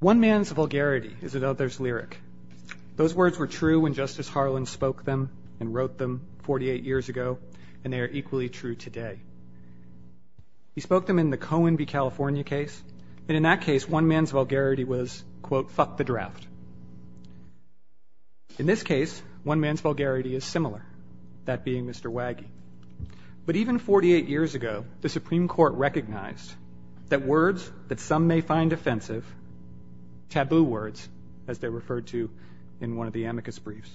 One man's vulgarity is another's lyric. Those words were true when Justice Harlan spoke them and wrote them 48 years ago, and they are equally true today. He spoke them in the Cohen v. California case. In that case, one man's vulgarity was, quote, fuck the draft. In this case, one man's vulgarity is similar, that being Mr. Waggy. But even 48 years ago, the Supreme Court recognized that words that some may find offensive, taboo words, as they're referred to in one of the amicus briefs,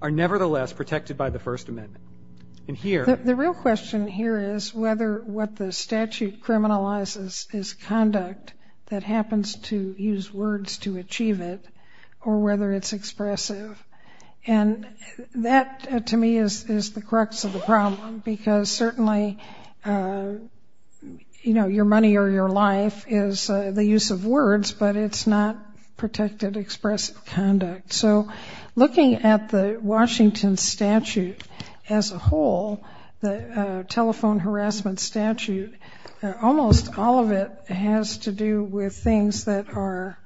are nevertheless protected by the First Amendment. The real question here is whether what the statute criminalizes is conduct that happens to use words to achieve it, or whether it's expressive. And that, to me, is the crux of the problem, because certainly your money or your life is the use of words, but it's not protected expressive conduct. So looking at the Washington statute as a whole, the telephone harassment statute, almost all of it has to do with things that are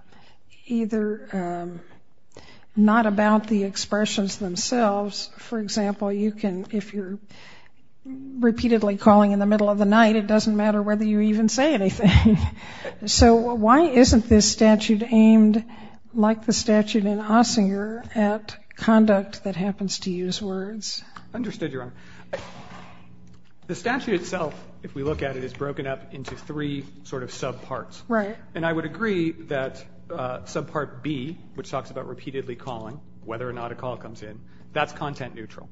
either not about the expressions themselves. For example, you can, if you're repeatedly calling in the middle of the night, it doesn't matter whether you even say anything. So why isn't this statute aimed, like the statute in Ossinger, at conduct that happens to use words? Understood, Your Honor. The statute itself, if we look at it, is broken up into three sort of subparts. Right. And I would agree that subpart B, which talks about repeatedly calling, whether or not a call comes in, that's content neutral.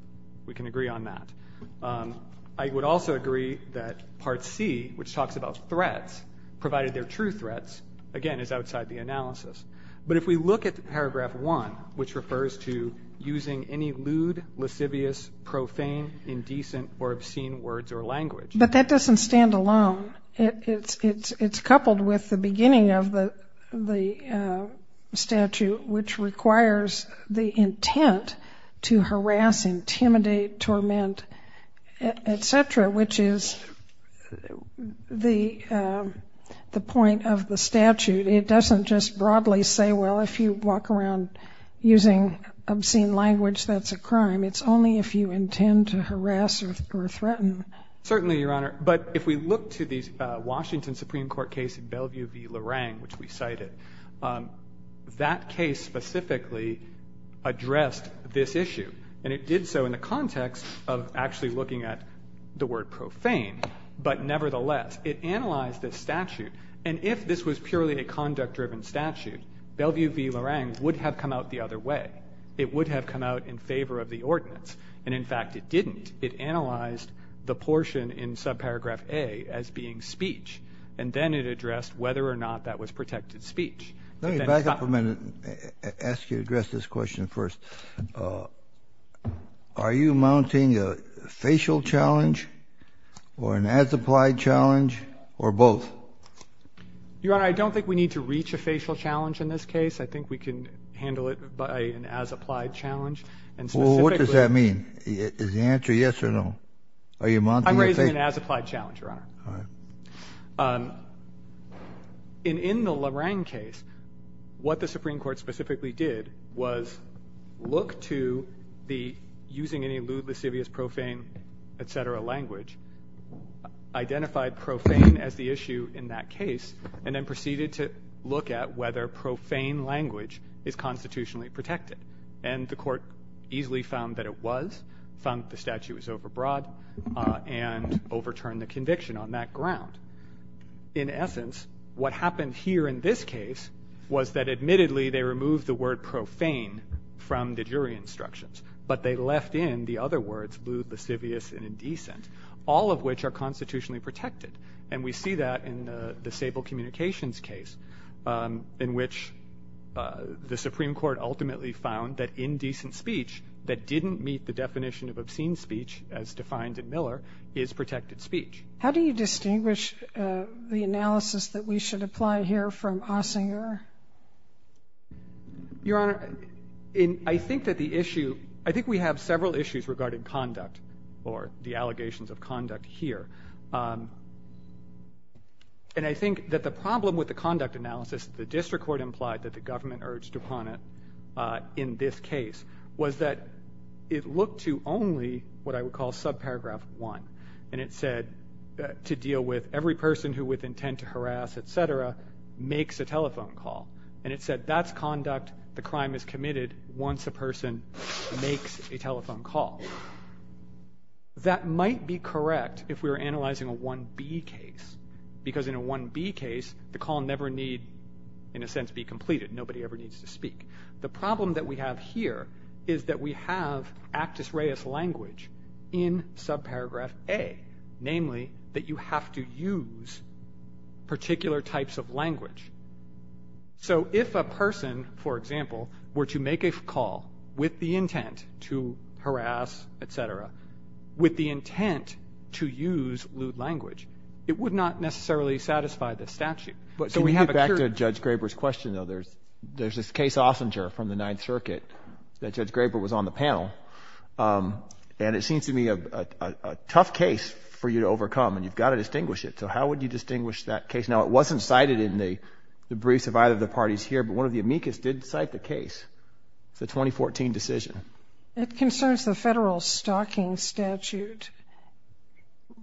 We can agree on that. I would also agree that part C, which talks about threats, provided they're true threats, again, is outside the analysis. But if we look at paragraph 1, which refers to using any lewd, lascivious, profane, indecent, or obscene words or language. But that doesn't stand alone. It's coupled with the beginning of the statute, which requires the intent to harass, intimidate, torment, etc., which is the point of the statute. It doesn't just broadly say, well, if you walk around using obscene language, that's a crime. It's only if you intend to harass or threaten. Certainly, Your Honor. But if we look to the Washington Supreme Court case in Bellevue v. Lorang, which we cited, that case specifically addressed this issue. And it did so in the context of actually looking at the word profane. But nevertheless, it analyzed this statute. And if this was purely a conduct-driven statute, Bellevue v. Lorang would have come out the other way. It would have come out in favor of the ordinance. And, in fact, it didn't. It analyzed the portion in subparagraph A as being speech. And then it addressed whether or not that was protected speech. Let me back up a minute and ask you to address this question first. Are you mounting a facial challenge or an as-applied challenge or both? Your Honor, I don't think we need to reach a facial challenge in this case. I think we can handle it by an as-applied challenge. Well, what does that mean? Is the answer yes or no? I'm raising an as-applied challenge, Your Honor. All right. In the Lorang case, what the Supreme Court specifically did was look to the using any lewd, lascivious, profane, et cetera language, identified profane as the issue in that case, and then proceeded to look at whether profane language is constitutionally protected. And the court easily found that it was, found that the statute was overbroad, and overturned the conviction on that ground. In essence, what happened here in this case was that, admittedly, they removed the word profane from the jury instructions, but they left in the other words lewd, lascivious, and indecent, all of which are constitutionally protected. And we see that in the Sable Communications case, in which the Supreme Court ultimately found that indecent speech that didn't meet the definition of obscene speech as defined in Miller is protected speech. How do you distinguish the analysis that we should apply here from Ossinger? Your Honor, I think that the issue, I think we have several issues regarding conduct, or the allegations of conduct here. And I think that the problem with the conduct analysis, the district court implied that the government urged upon it in this case, was that it looked to only what I would call subparagraph one. And it said to deal with every person who, with intent to harass, et cetera, makes a telephone call. And it said that's conduct the crime is committed once a person makes a telephone call. That might be correct if we were analyzing a 1B case, because in a 1B case, the call never need, in a sense, be completed. Nobody ever needs to speak. The problem that we have here is that we have actus reus language in subparagraph A. Namely, that you have to use particular types of language. So if a person, for example, were to make a call with the intent to harass, et cetera, with the intent to use lewd language, it would not necessarily satisfy the statute. Can we get back to Judge Graber's question, though? There's this case, Ossinger, from the Ninth Circuit that Judge Graber was on the panel. And it seems to me a tough case for you to overcome, and you've got to distinguish it. So how would you distinguish that case? Now, it wasn't cited in the briefs of either of the parties here, but one of the amicus did cite the case, the 2014 decision. It concerns the federal stalking statute,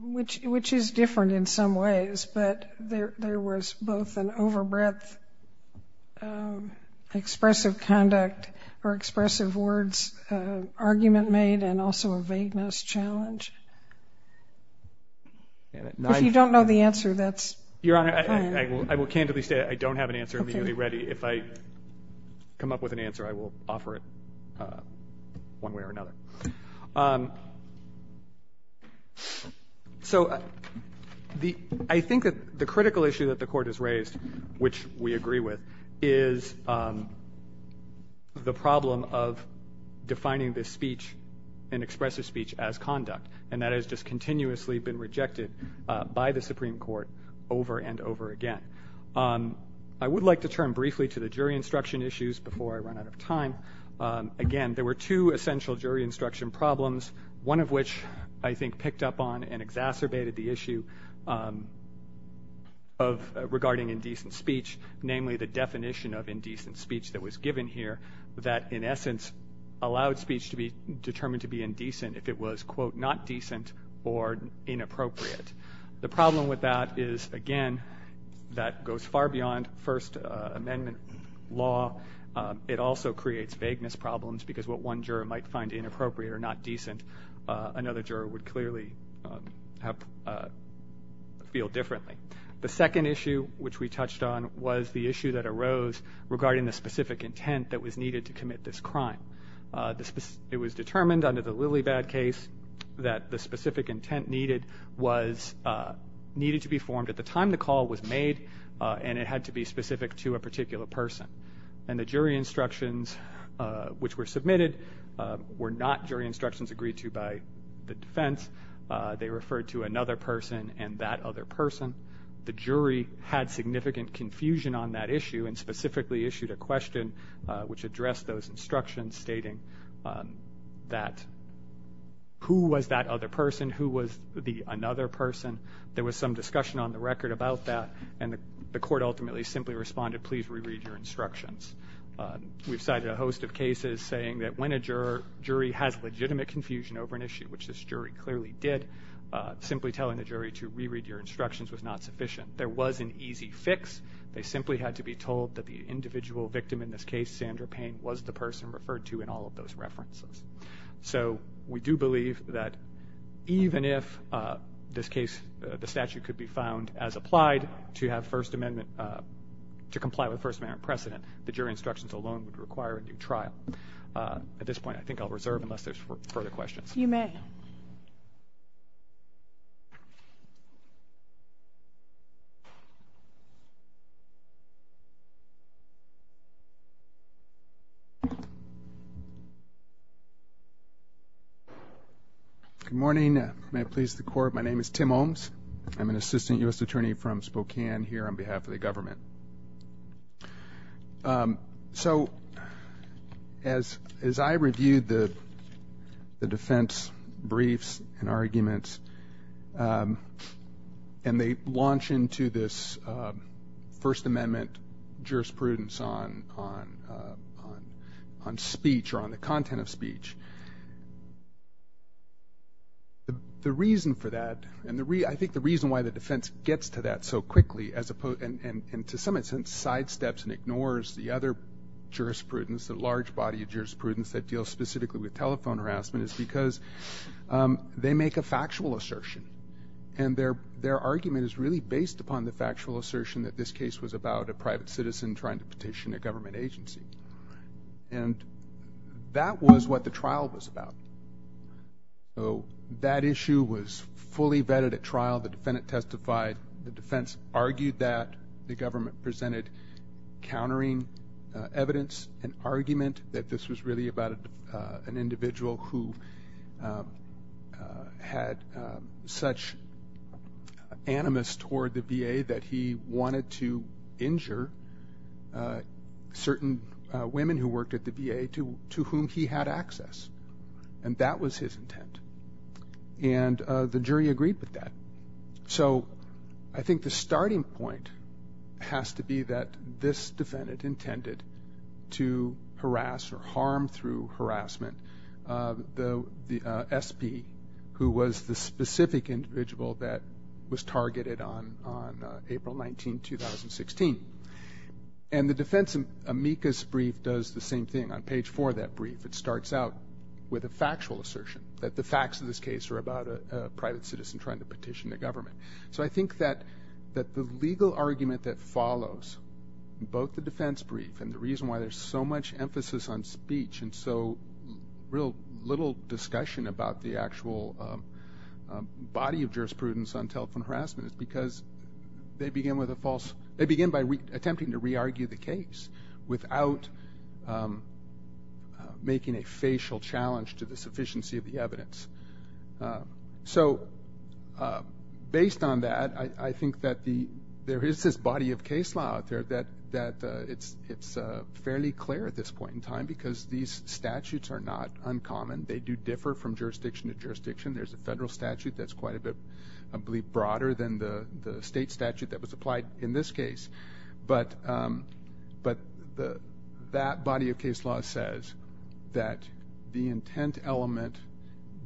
which is different in some ways. But there was both an overbreadth expressive conduct or expressive words argument made and also a vagueness challenge. If you don't know the answer, that's fine. Your Honor, I will candidly say I don't have an answer immediately ready. If I come up with an answer, I will offer it one way or another. So I think that the critical issue that the Court has raised, which we agree with, is the problem of defining this speech, an expressive speech, as conduct, and that has just continuously been rejected by the Supreme Court over and over again. I would like to turn briefly to the jury instruction issues before I run out of time. Again, there were two essential jury instruction problems, one of which I think picked up on and exacerbated the issue regarding indecent speech, namely the definition of indecent speech that was given here that, in essence, allowed speech to be determined to be indecent if it was, quote, not decent or inappropriate. The problem with that is, again, that goes far beyond First Amendment law. It also creates vagueness problems because what one juror might find inappropriate or not decent, another juror would clearly feel differently. The second issue, which we touched on, was the issue that arose regarding the specific intent that was needed to commit this crime. It was determined under the Lilibad case that the specific intent needed to be formed at the time the call was made, and it had to be specific to a particular person. And the jury instructions which were submitted were not jury instructions agreed to by the defense. They referred to another person and that other person. The jury had significant confusion on that issue and specifically issued a question which addressed those instructions stating that who was that other person, who was the another person. There was some discussion on the record about that, and the court ultimately simply responded, please reread your instructions. We've cited a host of cases saying that when a jury has legitimate confusion over an issue, which this jury clearly did, simply telling the jury to reread your instructions was not sufficient. There was an easy fix. They simply had to be told that the individual victim in this case, Sandra Payne, was the person referred to in all of those references. So we do believe that even if the statute could be found as applied to comply with First Amendment precedent, the jury instructions alone would require a new trial. At this point, I think I'll reserve unless there's further questions. You may. Thank you. Good morning. May it please the Court, my name is Tim Holmes. I'm an assistant U.S. attorney from Spokane here on behalf of the government. So as I reviewed the defense briefs and arguments, and they launch into this First Amendment jurisprudence on speech or on the content of speech, the reason for that, and I think the reason why the defense gets to that so quickly and to some extent sidesteps and ignores the other jurisprudence, the large body of jurisprudence that deals specifically with telephone harassment, is because they make a factual assertion. And their argument is really based upon the factual assertion that this case was about a private citizen trying to petition a government agency. And that was what the trial was about. So that issue was fully vetted at trial. The defendant testified. The defense argued that. The government presented countering evidence and argument that this was really about an individual who had such animus toward the VA that he wanted to injure certain women who worked at the VA to whom he had access. And that was his intent. And the jury agreed with that. So I think the starting point has to be that this defendant intended to harass or harm through harassment the SP who was the specific individual that was targeted on April 19, 2016. And the defense amicus brief does the same thing. On page four of that brief, it starts out with a factual assertion that the facts of this case are about a private citizen trying to petition the government. So I think that the legal argument that follows both the defense brief and the reason why there's so much emphasis on speech and so little discussion about the actual body of jurisprudence on telephone harassment is because they begin by attempting to re-argue the case without making a facial challenge to the sufficiency of the evidence. So based on that, I think that there is this body of case law out there that it's fairly clear at this point in time because these statutes are not uncommon. They do differ from jurisdiction to jurisdiction. There's a federal statute that's quite a bit, I believe, broader than the state statute that was applied in this case. But that body of case law says that the intent element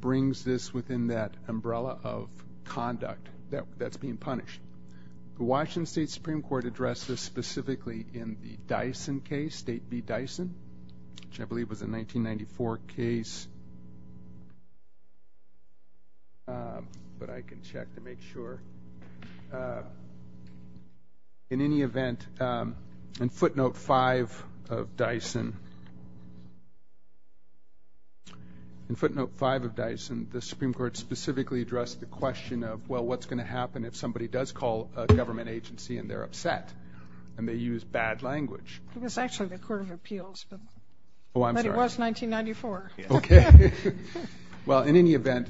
brings this within that umbrella of conduct that's being punished. The Washington State Supreme Court addressed this specifically in the Dyson case, State v. Dyson, which I believe was a 1994 case. But I can check to make sure. In any event, in footnote 5 of Dyson, the Supreme Court specifically addressed the question of, well, what's going to happen if somebody does call a government agency and they're upset and they use bad language? It was actually the Court of Appeals. Oh, I'm sorry. But it was 1994. Okay. Well, in any event,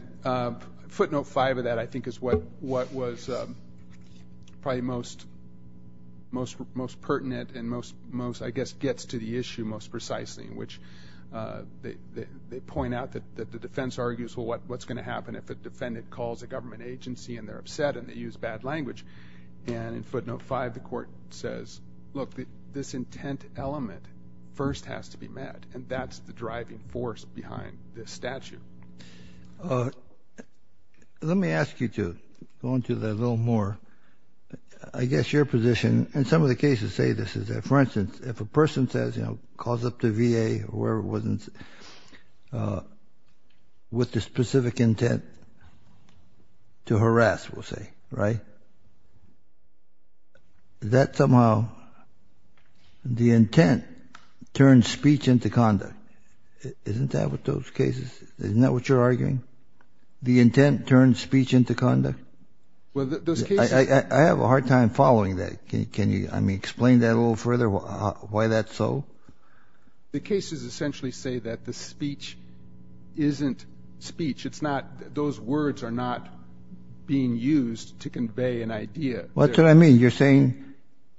footnote 5 of that I think is what was probably most pertinent and most, I guess, gets to the issue most precisely, in which they point out that the defense argues, well, what's going to happen if a defendant calls a government agency and they're upset and they use bad language? And in footnote 5, the Court says, look, this intent element first has to be met, and that's the driving force behind this statute. Let me ask you to go into that a little more. I guess your position, and some of the cases say this, is that, for instance, if a person calls up the VA or whoever it was with the specific intent to harass, we'll say, right, that somehow the intent turns speech into conduct. Isn't that what those cases, isn't that what you're arguing? The intent turns speech into conduct? I have a hard time following that. Can you, I mean, explain that a little further, why that's so? The cases essentially say that the speech isn't speech. It's not, those words are not being used to convey an idea. What's what I mean? You're saying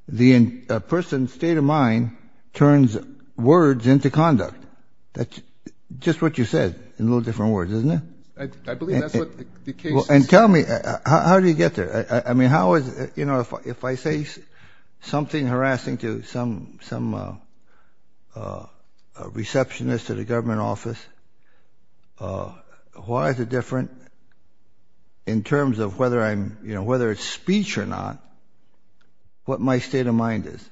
the person's state of mind turns words into conduct. That's just what you said in a little different words, isn't it? I believe that's what the case is. And tell me, how do you get there? I mean, how is, you know, if I say something harassing to some receptionist at a government office, why is it different in terms of whether I'm, you know, whether it's speech or not, what my state of mind is?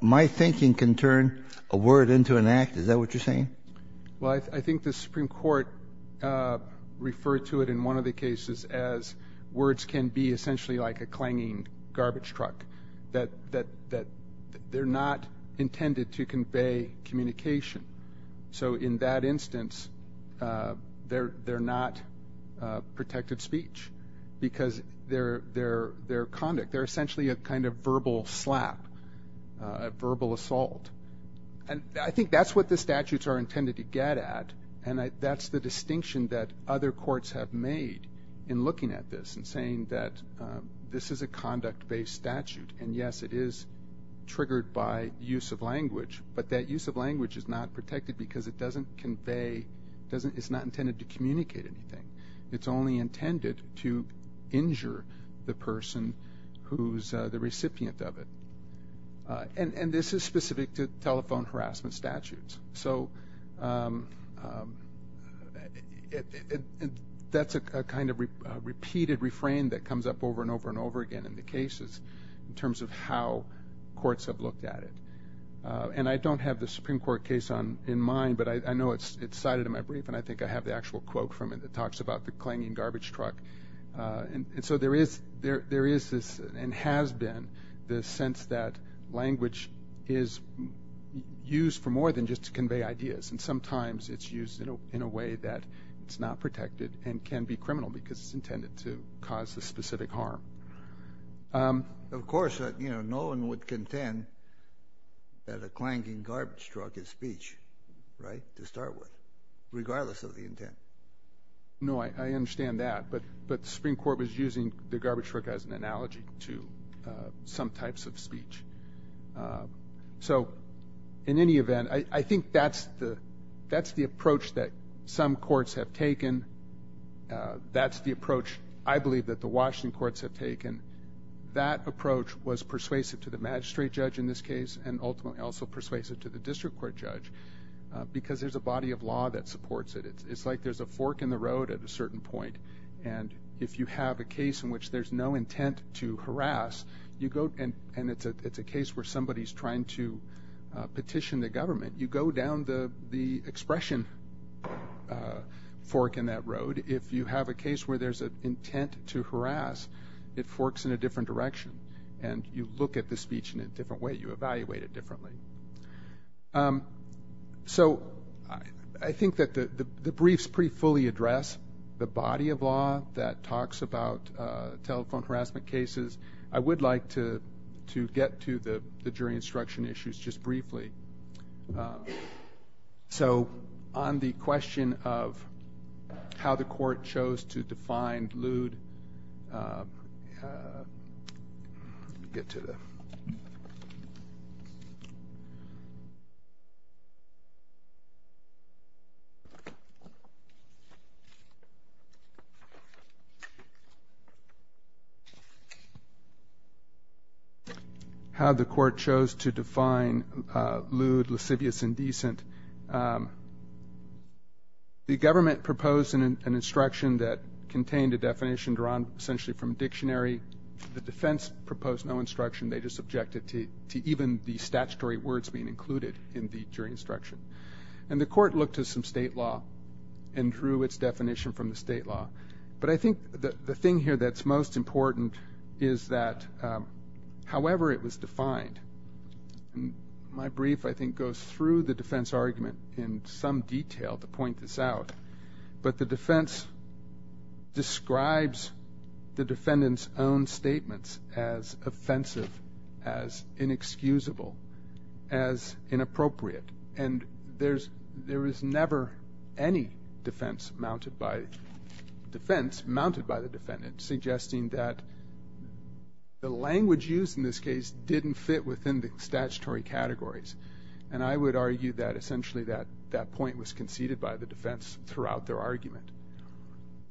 My thinking can turn a word into an act. Is that what you're saying? Well, I think the Supreme Court referred to it in one of the cases as words can be essentially like a clanging garbage truck, that they're not intended to convey communication. So in that instance, they're not protected speech because they're conduct. They're essentially a kind of verbal slap, a verbal assault. And I think that's what the statutes are intended to get at, and that's the distinction that other courts have made in looking at this and saying that this is a conduct-based statute. And, yes, it is triggered by use of language, but that use of language is not protected because it doesn't convey, it's not intended to communicate anything. It's only intended to injure the person who's the recipient of it. And this is specific to telephone harassment statutes. So that's a kind of repeated refrain that comes up over and over and over again in the cases in terms of how courts have looked at it. And I don't have the Supreme Court case in mind, but I know it's cited in my brief, and I think I have the actual quote from it that talks about the clanging garbage truck. And so there is this and has been this sense that language is used for more than just to convey ideas, and sometimes it's used in a way that it's not protected and can be criminal because it's intended to cause a specific harm. Of course, no one would contend that a clanging garbage truck is speech, right, to start with, regardless of the intent. No, I understand that, but the Supreme Court was using the garbage truck as an analogy to some types of speech. So in any event, I think that's the approach that some courts have taken. That's the approach, I believe, that the Washington courts have taken. That approach was persuasive to the magistrate judge in this case and ultimately also persuasive to the district court judge because there's a body of law that supports it. It's like there's a fork in the road at a certain point, and if you have a case in which there's no intent to harass, and it's a case where somebody's trying to petition the government, you go down the expression fork in that road. If you have a case where there's an intent to harass, it forks in a different direction, and you look at the speech in a different way, you evaluate it differently. So I think that the briefs pretty fully address the body of law that talks about telephone harassment cases. I would like to get to the jury instruction issues just briefly. So on the question of how the court chose to define lewd, let me get to that. How the court chose to define lewd, lascivious, and decent, the government proposed an instruction that contained a definition drawn essentially from a dictionary. The defense proposed no instruction. They just objected to even the statutory words being included in the jury instruction. And the court looked at some state law and drew its definition from the state law. But I think the thing here that's most important is that however it was defined, and my brief, I think, goes through the defense argument in some detail to point this out, but the defense describes the defendant's own statements as offensive, as inexcusable, as inappropriate. And there is never any defense mounted by the defendant suggesting that the language used in this case didn't fit within the statutory categories. And I would argue that essentially that point was conceded by the defense throughout their argument.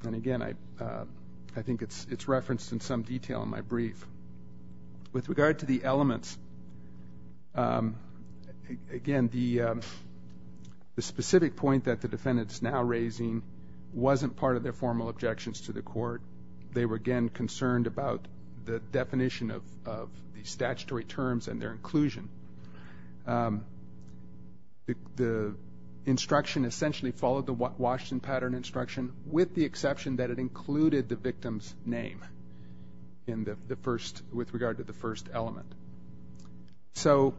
And again, I think it's referenced in some detail in my brief. With regard to the elements, again, the specific point that the defendant is now raising wasn't part of their formal objections to the court. They were, again, concerned about the definition of the statutory terms and their inclusion. The instruction essentially followed the Washington pattern instruction with the exception that it included the victim's name with regard to the first element. So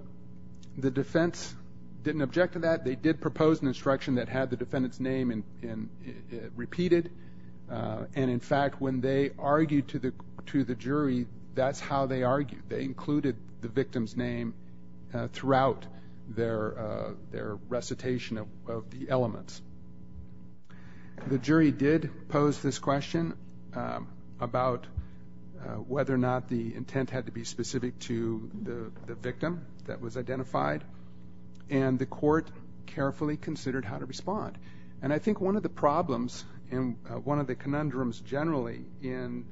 the defense didn't object to that. They did propose an instruction that had the defendant's name repeated. And, in fact, when they argued to the jury, that's how they argued. They included the victim's name throughout their recitation of the elements. The jury did pose this question about whether or not the intent had to be specific to the victim that was identified, and the court carefully considered how to respond. And I think one of the problems and one of the conundrums generally in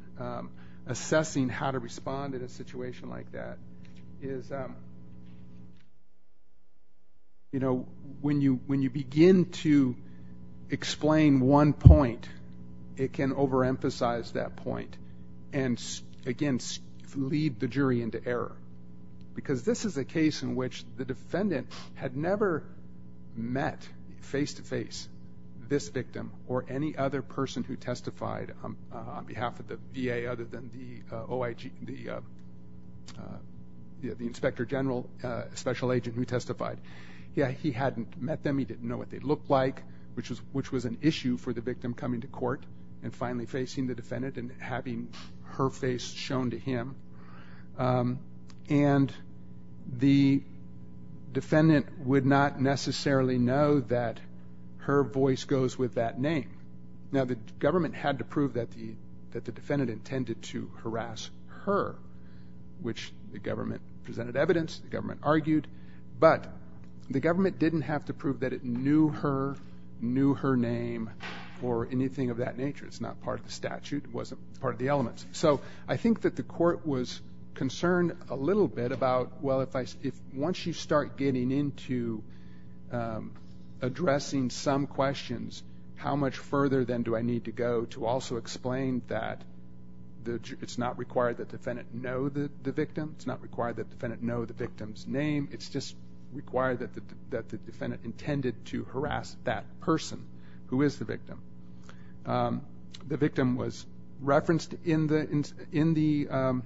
assessing how to respond in a situation like that is when you begin to explain one point, it can overemphasize that point and, again, lead the jury into error. Because this is a case in which the defendant had never met face-to-face this victim or any other person who testified on behalf of the VA other than the Inspector General Special Agent who testified. He hadn't met them. He didn't know what they looked like, which was an issue for the victim coming to court and finally facing the defendant and having her face shown to him. And the defendant would not necessarily know that her voice goes with that name. Now, the government had to prove that the defendant intended to harass her, which the government presented evidence, the government argued, but the government didn't have to prove that it knew her, knew her name, or anything of that nature. It's not part of the statute. It wasn't part of the elements. So I think that the court was concerned a little bit about, well, once you start getting into addressing some questions, how much further then do I need to go to also explain that it's not required that the defendant know the victim, it's not required that the defendant know the victim's name, it's just required that the defendant intended to harass that person who is the victim. The victim was referenced in the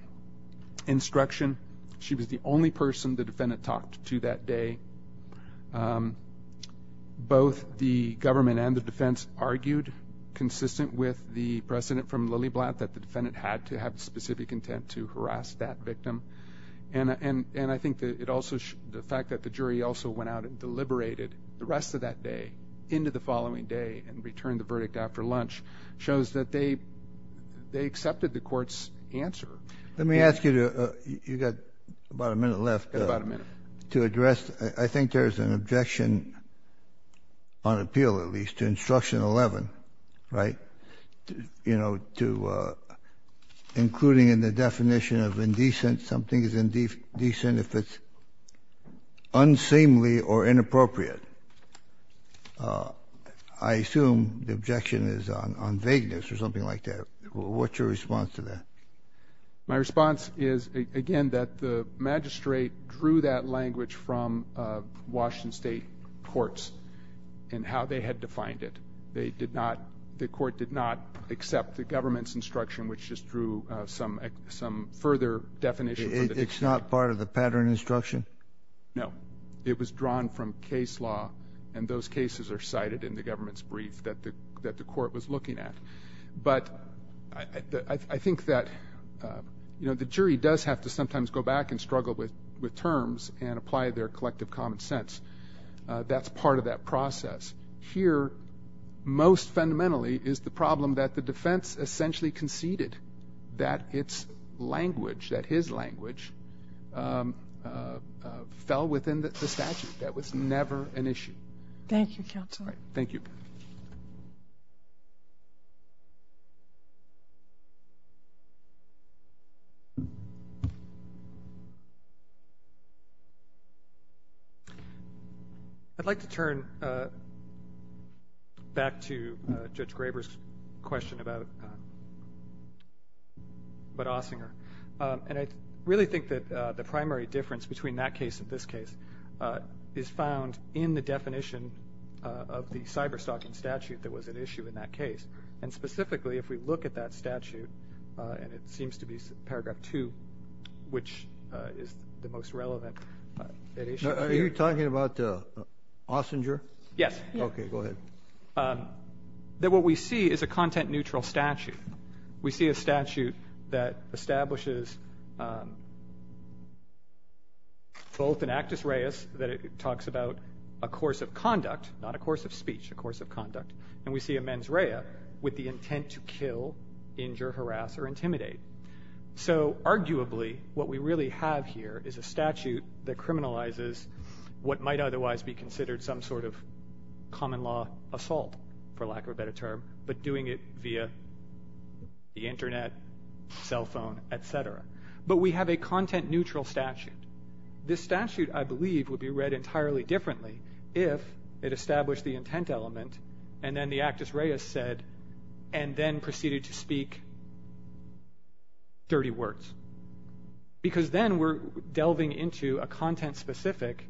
instruction. She was the only person the defendant talked to that day. Both the government and the defense argued, consistent with the precedent from Lilly Blatt, that the defendant had to have specific intent to harass that victim. And I think the fact that the jury also went out and deliberated the rest of that day into the following day and returned the verdict after lunch shows that they accepted the court's answer. Let me ask you, you've got about a minute left. About a minute. To address, I think there's an objection, on appeal at least, to instruction 11, right? That, you know, including in the definition of indecent, something is indecent if it's unseemly or inappropriate. I assume the objection is on vagueness or something like that. What's your response to that? My response is, again, that the magistrate drew that language from Washington State courts and how they had defined it. They did not, the court did not accept the government's instruction, which just drew some further definition. It's not part of the pattern instruction? No. It was drawn from case law, and those cases are cited in the government's brief that the court was looking at. But I think that, you know, the jury does have to sometimes go back and struggle with terms and apply their collective common sense. That's part of that process. Here, most fundamentally, is the problem that the defense essentially conceded that its language, that his language, fell within the statute. That was never an issue. Thank you, Counselor. Thank you. Thank you. I'd like to turn back to Judge Graber's question about Ossinger. And I really think that the primary difference between that case and this case is found in the definition of the cyberstalking statute that was at issue in that case. And specifically, if we look at that statute, and it seems to be Paragraph 2, which is the most relevant at issue here. Are you talking about Ossinger? Yes. Okay, go ahead. That what we see is a content-neutral statute. We see a statute that establishes both an actus reus, that it talks about a course of conduct, not a course of speech, a course of conduct. And we see a mens rea with the intent to kill, injure, harass, or intimidate. So, arguably, what we really have here is a statute that criminalizes what might otherwise be considered some sort of common law assault, for lack of a better term, but doing it via the Internet, cell phone, etc. But we have a content-neutral statute. This statute, I believe, would be read entirely differently if it established the intent element, and then the actus reus said, and then proceeded to speak dirty words. Because then we're delving into a content-specific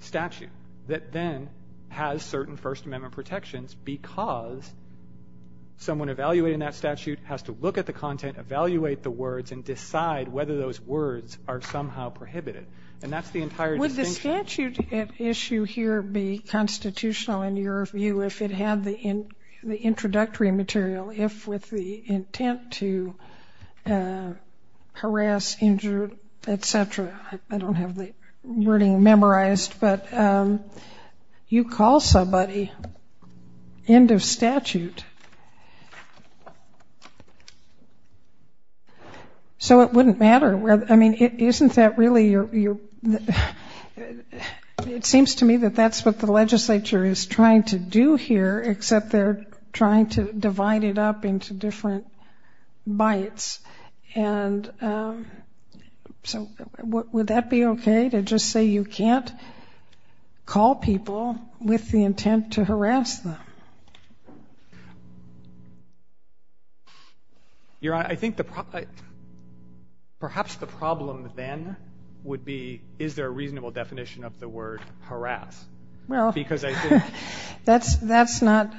statute that then has certain First Amendment protections because someone evaluating that statute has to look at the content, evaluate the words, and decide whether those words are somehow prohibited. And that's the entire distinction. Wouldn't the statute at issue here be constitutional in your view if it had the introductory material, if with the intent to harass, injure, etc.? I don't have the wording memorized, but you call somebody, end of statute. So it wouldn't matter whether, I mean, isn't that really your, it seems to me that that's what the legislature is trying to do here, except they're trying to divide it up into different bites. And so would that be okay to just say you can't call people with the intent to harass them? Your Honor, I think the, perhaps the problem then would be is there a reasonable definition of the word harass? Well, that's not,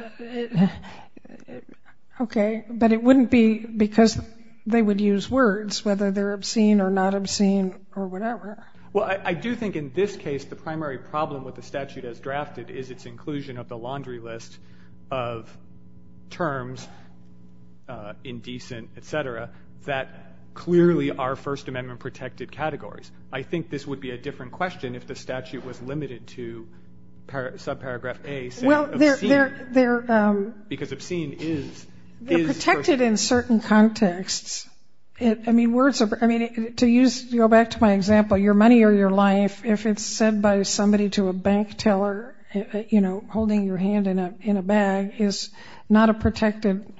okay, but it wouldn't be because they would use words, whether they're obscene or not obscene or whatever. Well, I do think in this case the primary problem with the statute as drafted is its inclusion of the laundry list of terms, indecent, etc., that clearly are First Amendment protected categories. I think this would be a different question if the statute was limited to subparagraph A said obscene because obscene is. They're protected in certain contexts. I mean, words, I mean, to use, to go back to my example, your money or your life, if it's said by somebody to a bank teller, you know, holding your hand in a bag, is not a protected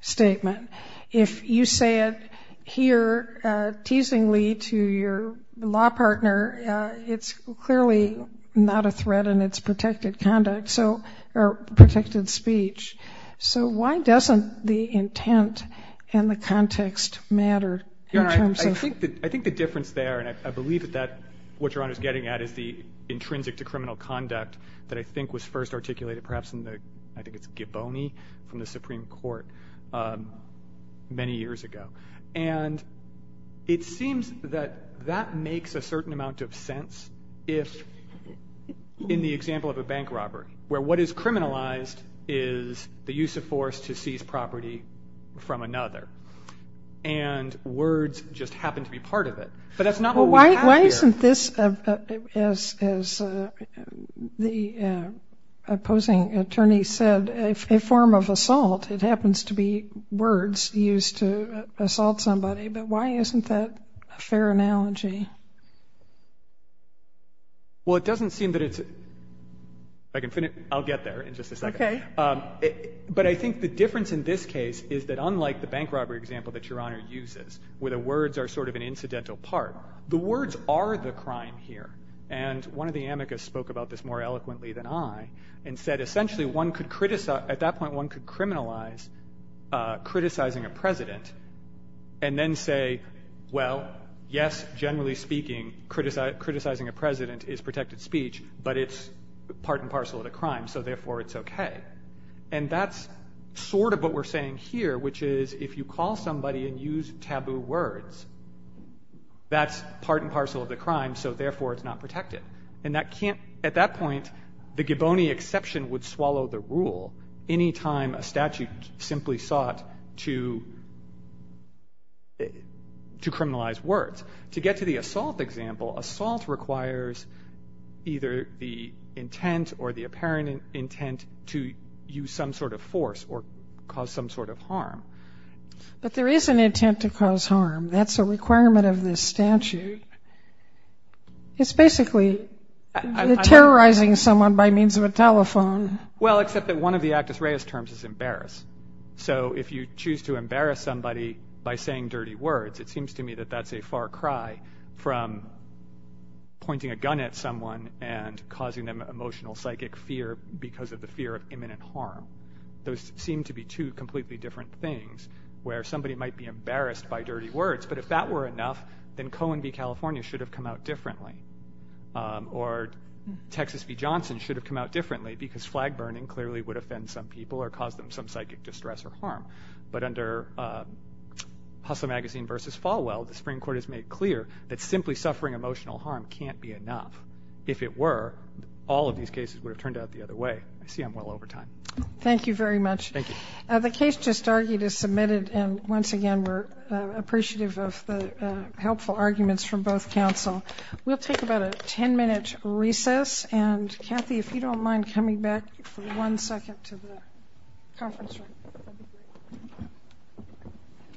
statement. If you say it here teasingly to your law partner, it's clearly not a threat and it's protected conduct, so, or protected speech. So, why doesn't the intent and the context matter in terms of? Your Honor, I think the difference there, and I believe that what your Honor is getting at is the intrinsic to criminal conduct that I think was first articulated perhaps in the, I think it's Gibboni from the Supreme Court many years ago. And it seems that that makes a certain amount of sense if, in the example of a bank robbery, where what is criminalized is the use of force to seize property from another. And words just happen to be part of it. But that's not what we have here. Isn't this, as the opposing attorney said, a form of assault? It happens to be words used to assault somebody. But why isn't that a fair analogy? Well, it doesn't seem that it's, if I can finish, I'll get there in just a second. Okay. But I think the difference in this case is that unlike the bank robbery example that your Honor uses, where the words are sort of an incidental part, the words are the crime here. And one of the amicus spoke about this more eloquently than I and said, essentially, at that point, one could criminalize criticizing a president and then say, well, yes, generally speaking, criticizing a president is protected speech, but it's part and parcel of the crime, so therefore it's okay. And that's sort of what we're saying here, which is if you call somebody and use taboo words, that's part and parcel of the crime, so therefore it's not protected. And that can't, at that point, the Giboni exception would swallow the rule any time a statute simply sought to criminalize words. To get to the assault example, assault requires either the intent or the apparent intent to use some sort of force or cause some sort of harm. But there is an intent to cause harm. That's a requirement of this statute. It's basically terrorizing someone by means of a telephone. Well, except that one of the actus reus terms is embarrass. So if you choose to embarrass somebody by saying dirty words, it seems to me that that's a far cry from pointing a gun at someone and causing them emotional psychic fear because of the fear of imminent harm. Those seem to be two completely different things where somebody might be embarrassed by dirty words, but if that were enough, then Cohen v. California should have come out differently. Or Texas v. Johnson should have come out differently because flag burning clearly would offend some people or cause them some psychic distress or harm. But under Hustle Magazine v. Falwell, the Supreme Court has made clear that simply suffering emotional harm can't be enough. If it were, all of these cases would have turned out the other way. I see I'm well over time. Thank you very much. Thank you. The case just argued is submitted, and once again, we're appreciative of the helpful arguments from both counsel. We'll take about a ten-minute recess, and Kathy, if you don't mind coming back for one second to the conference room.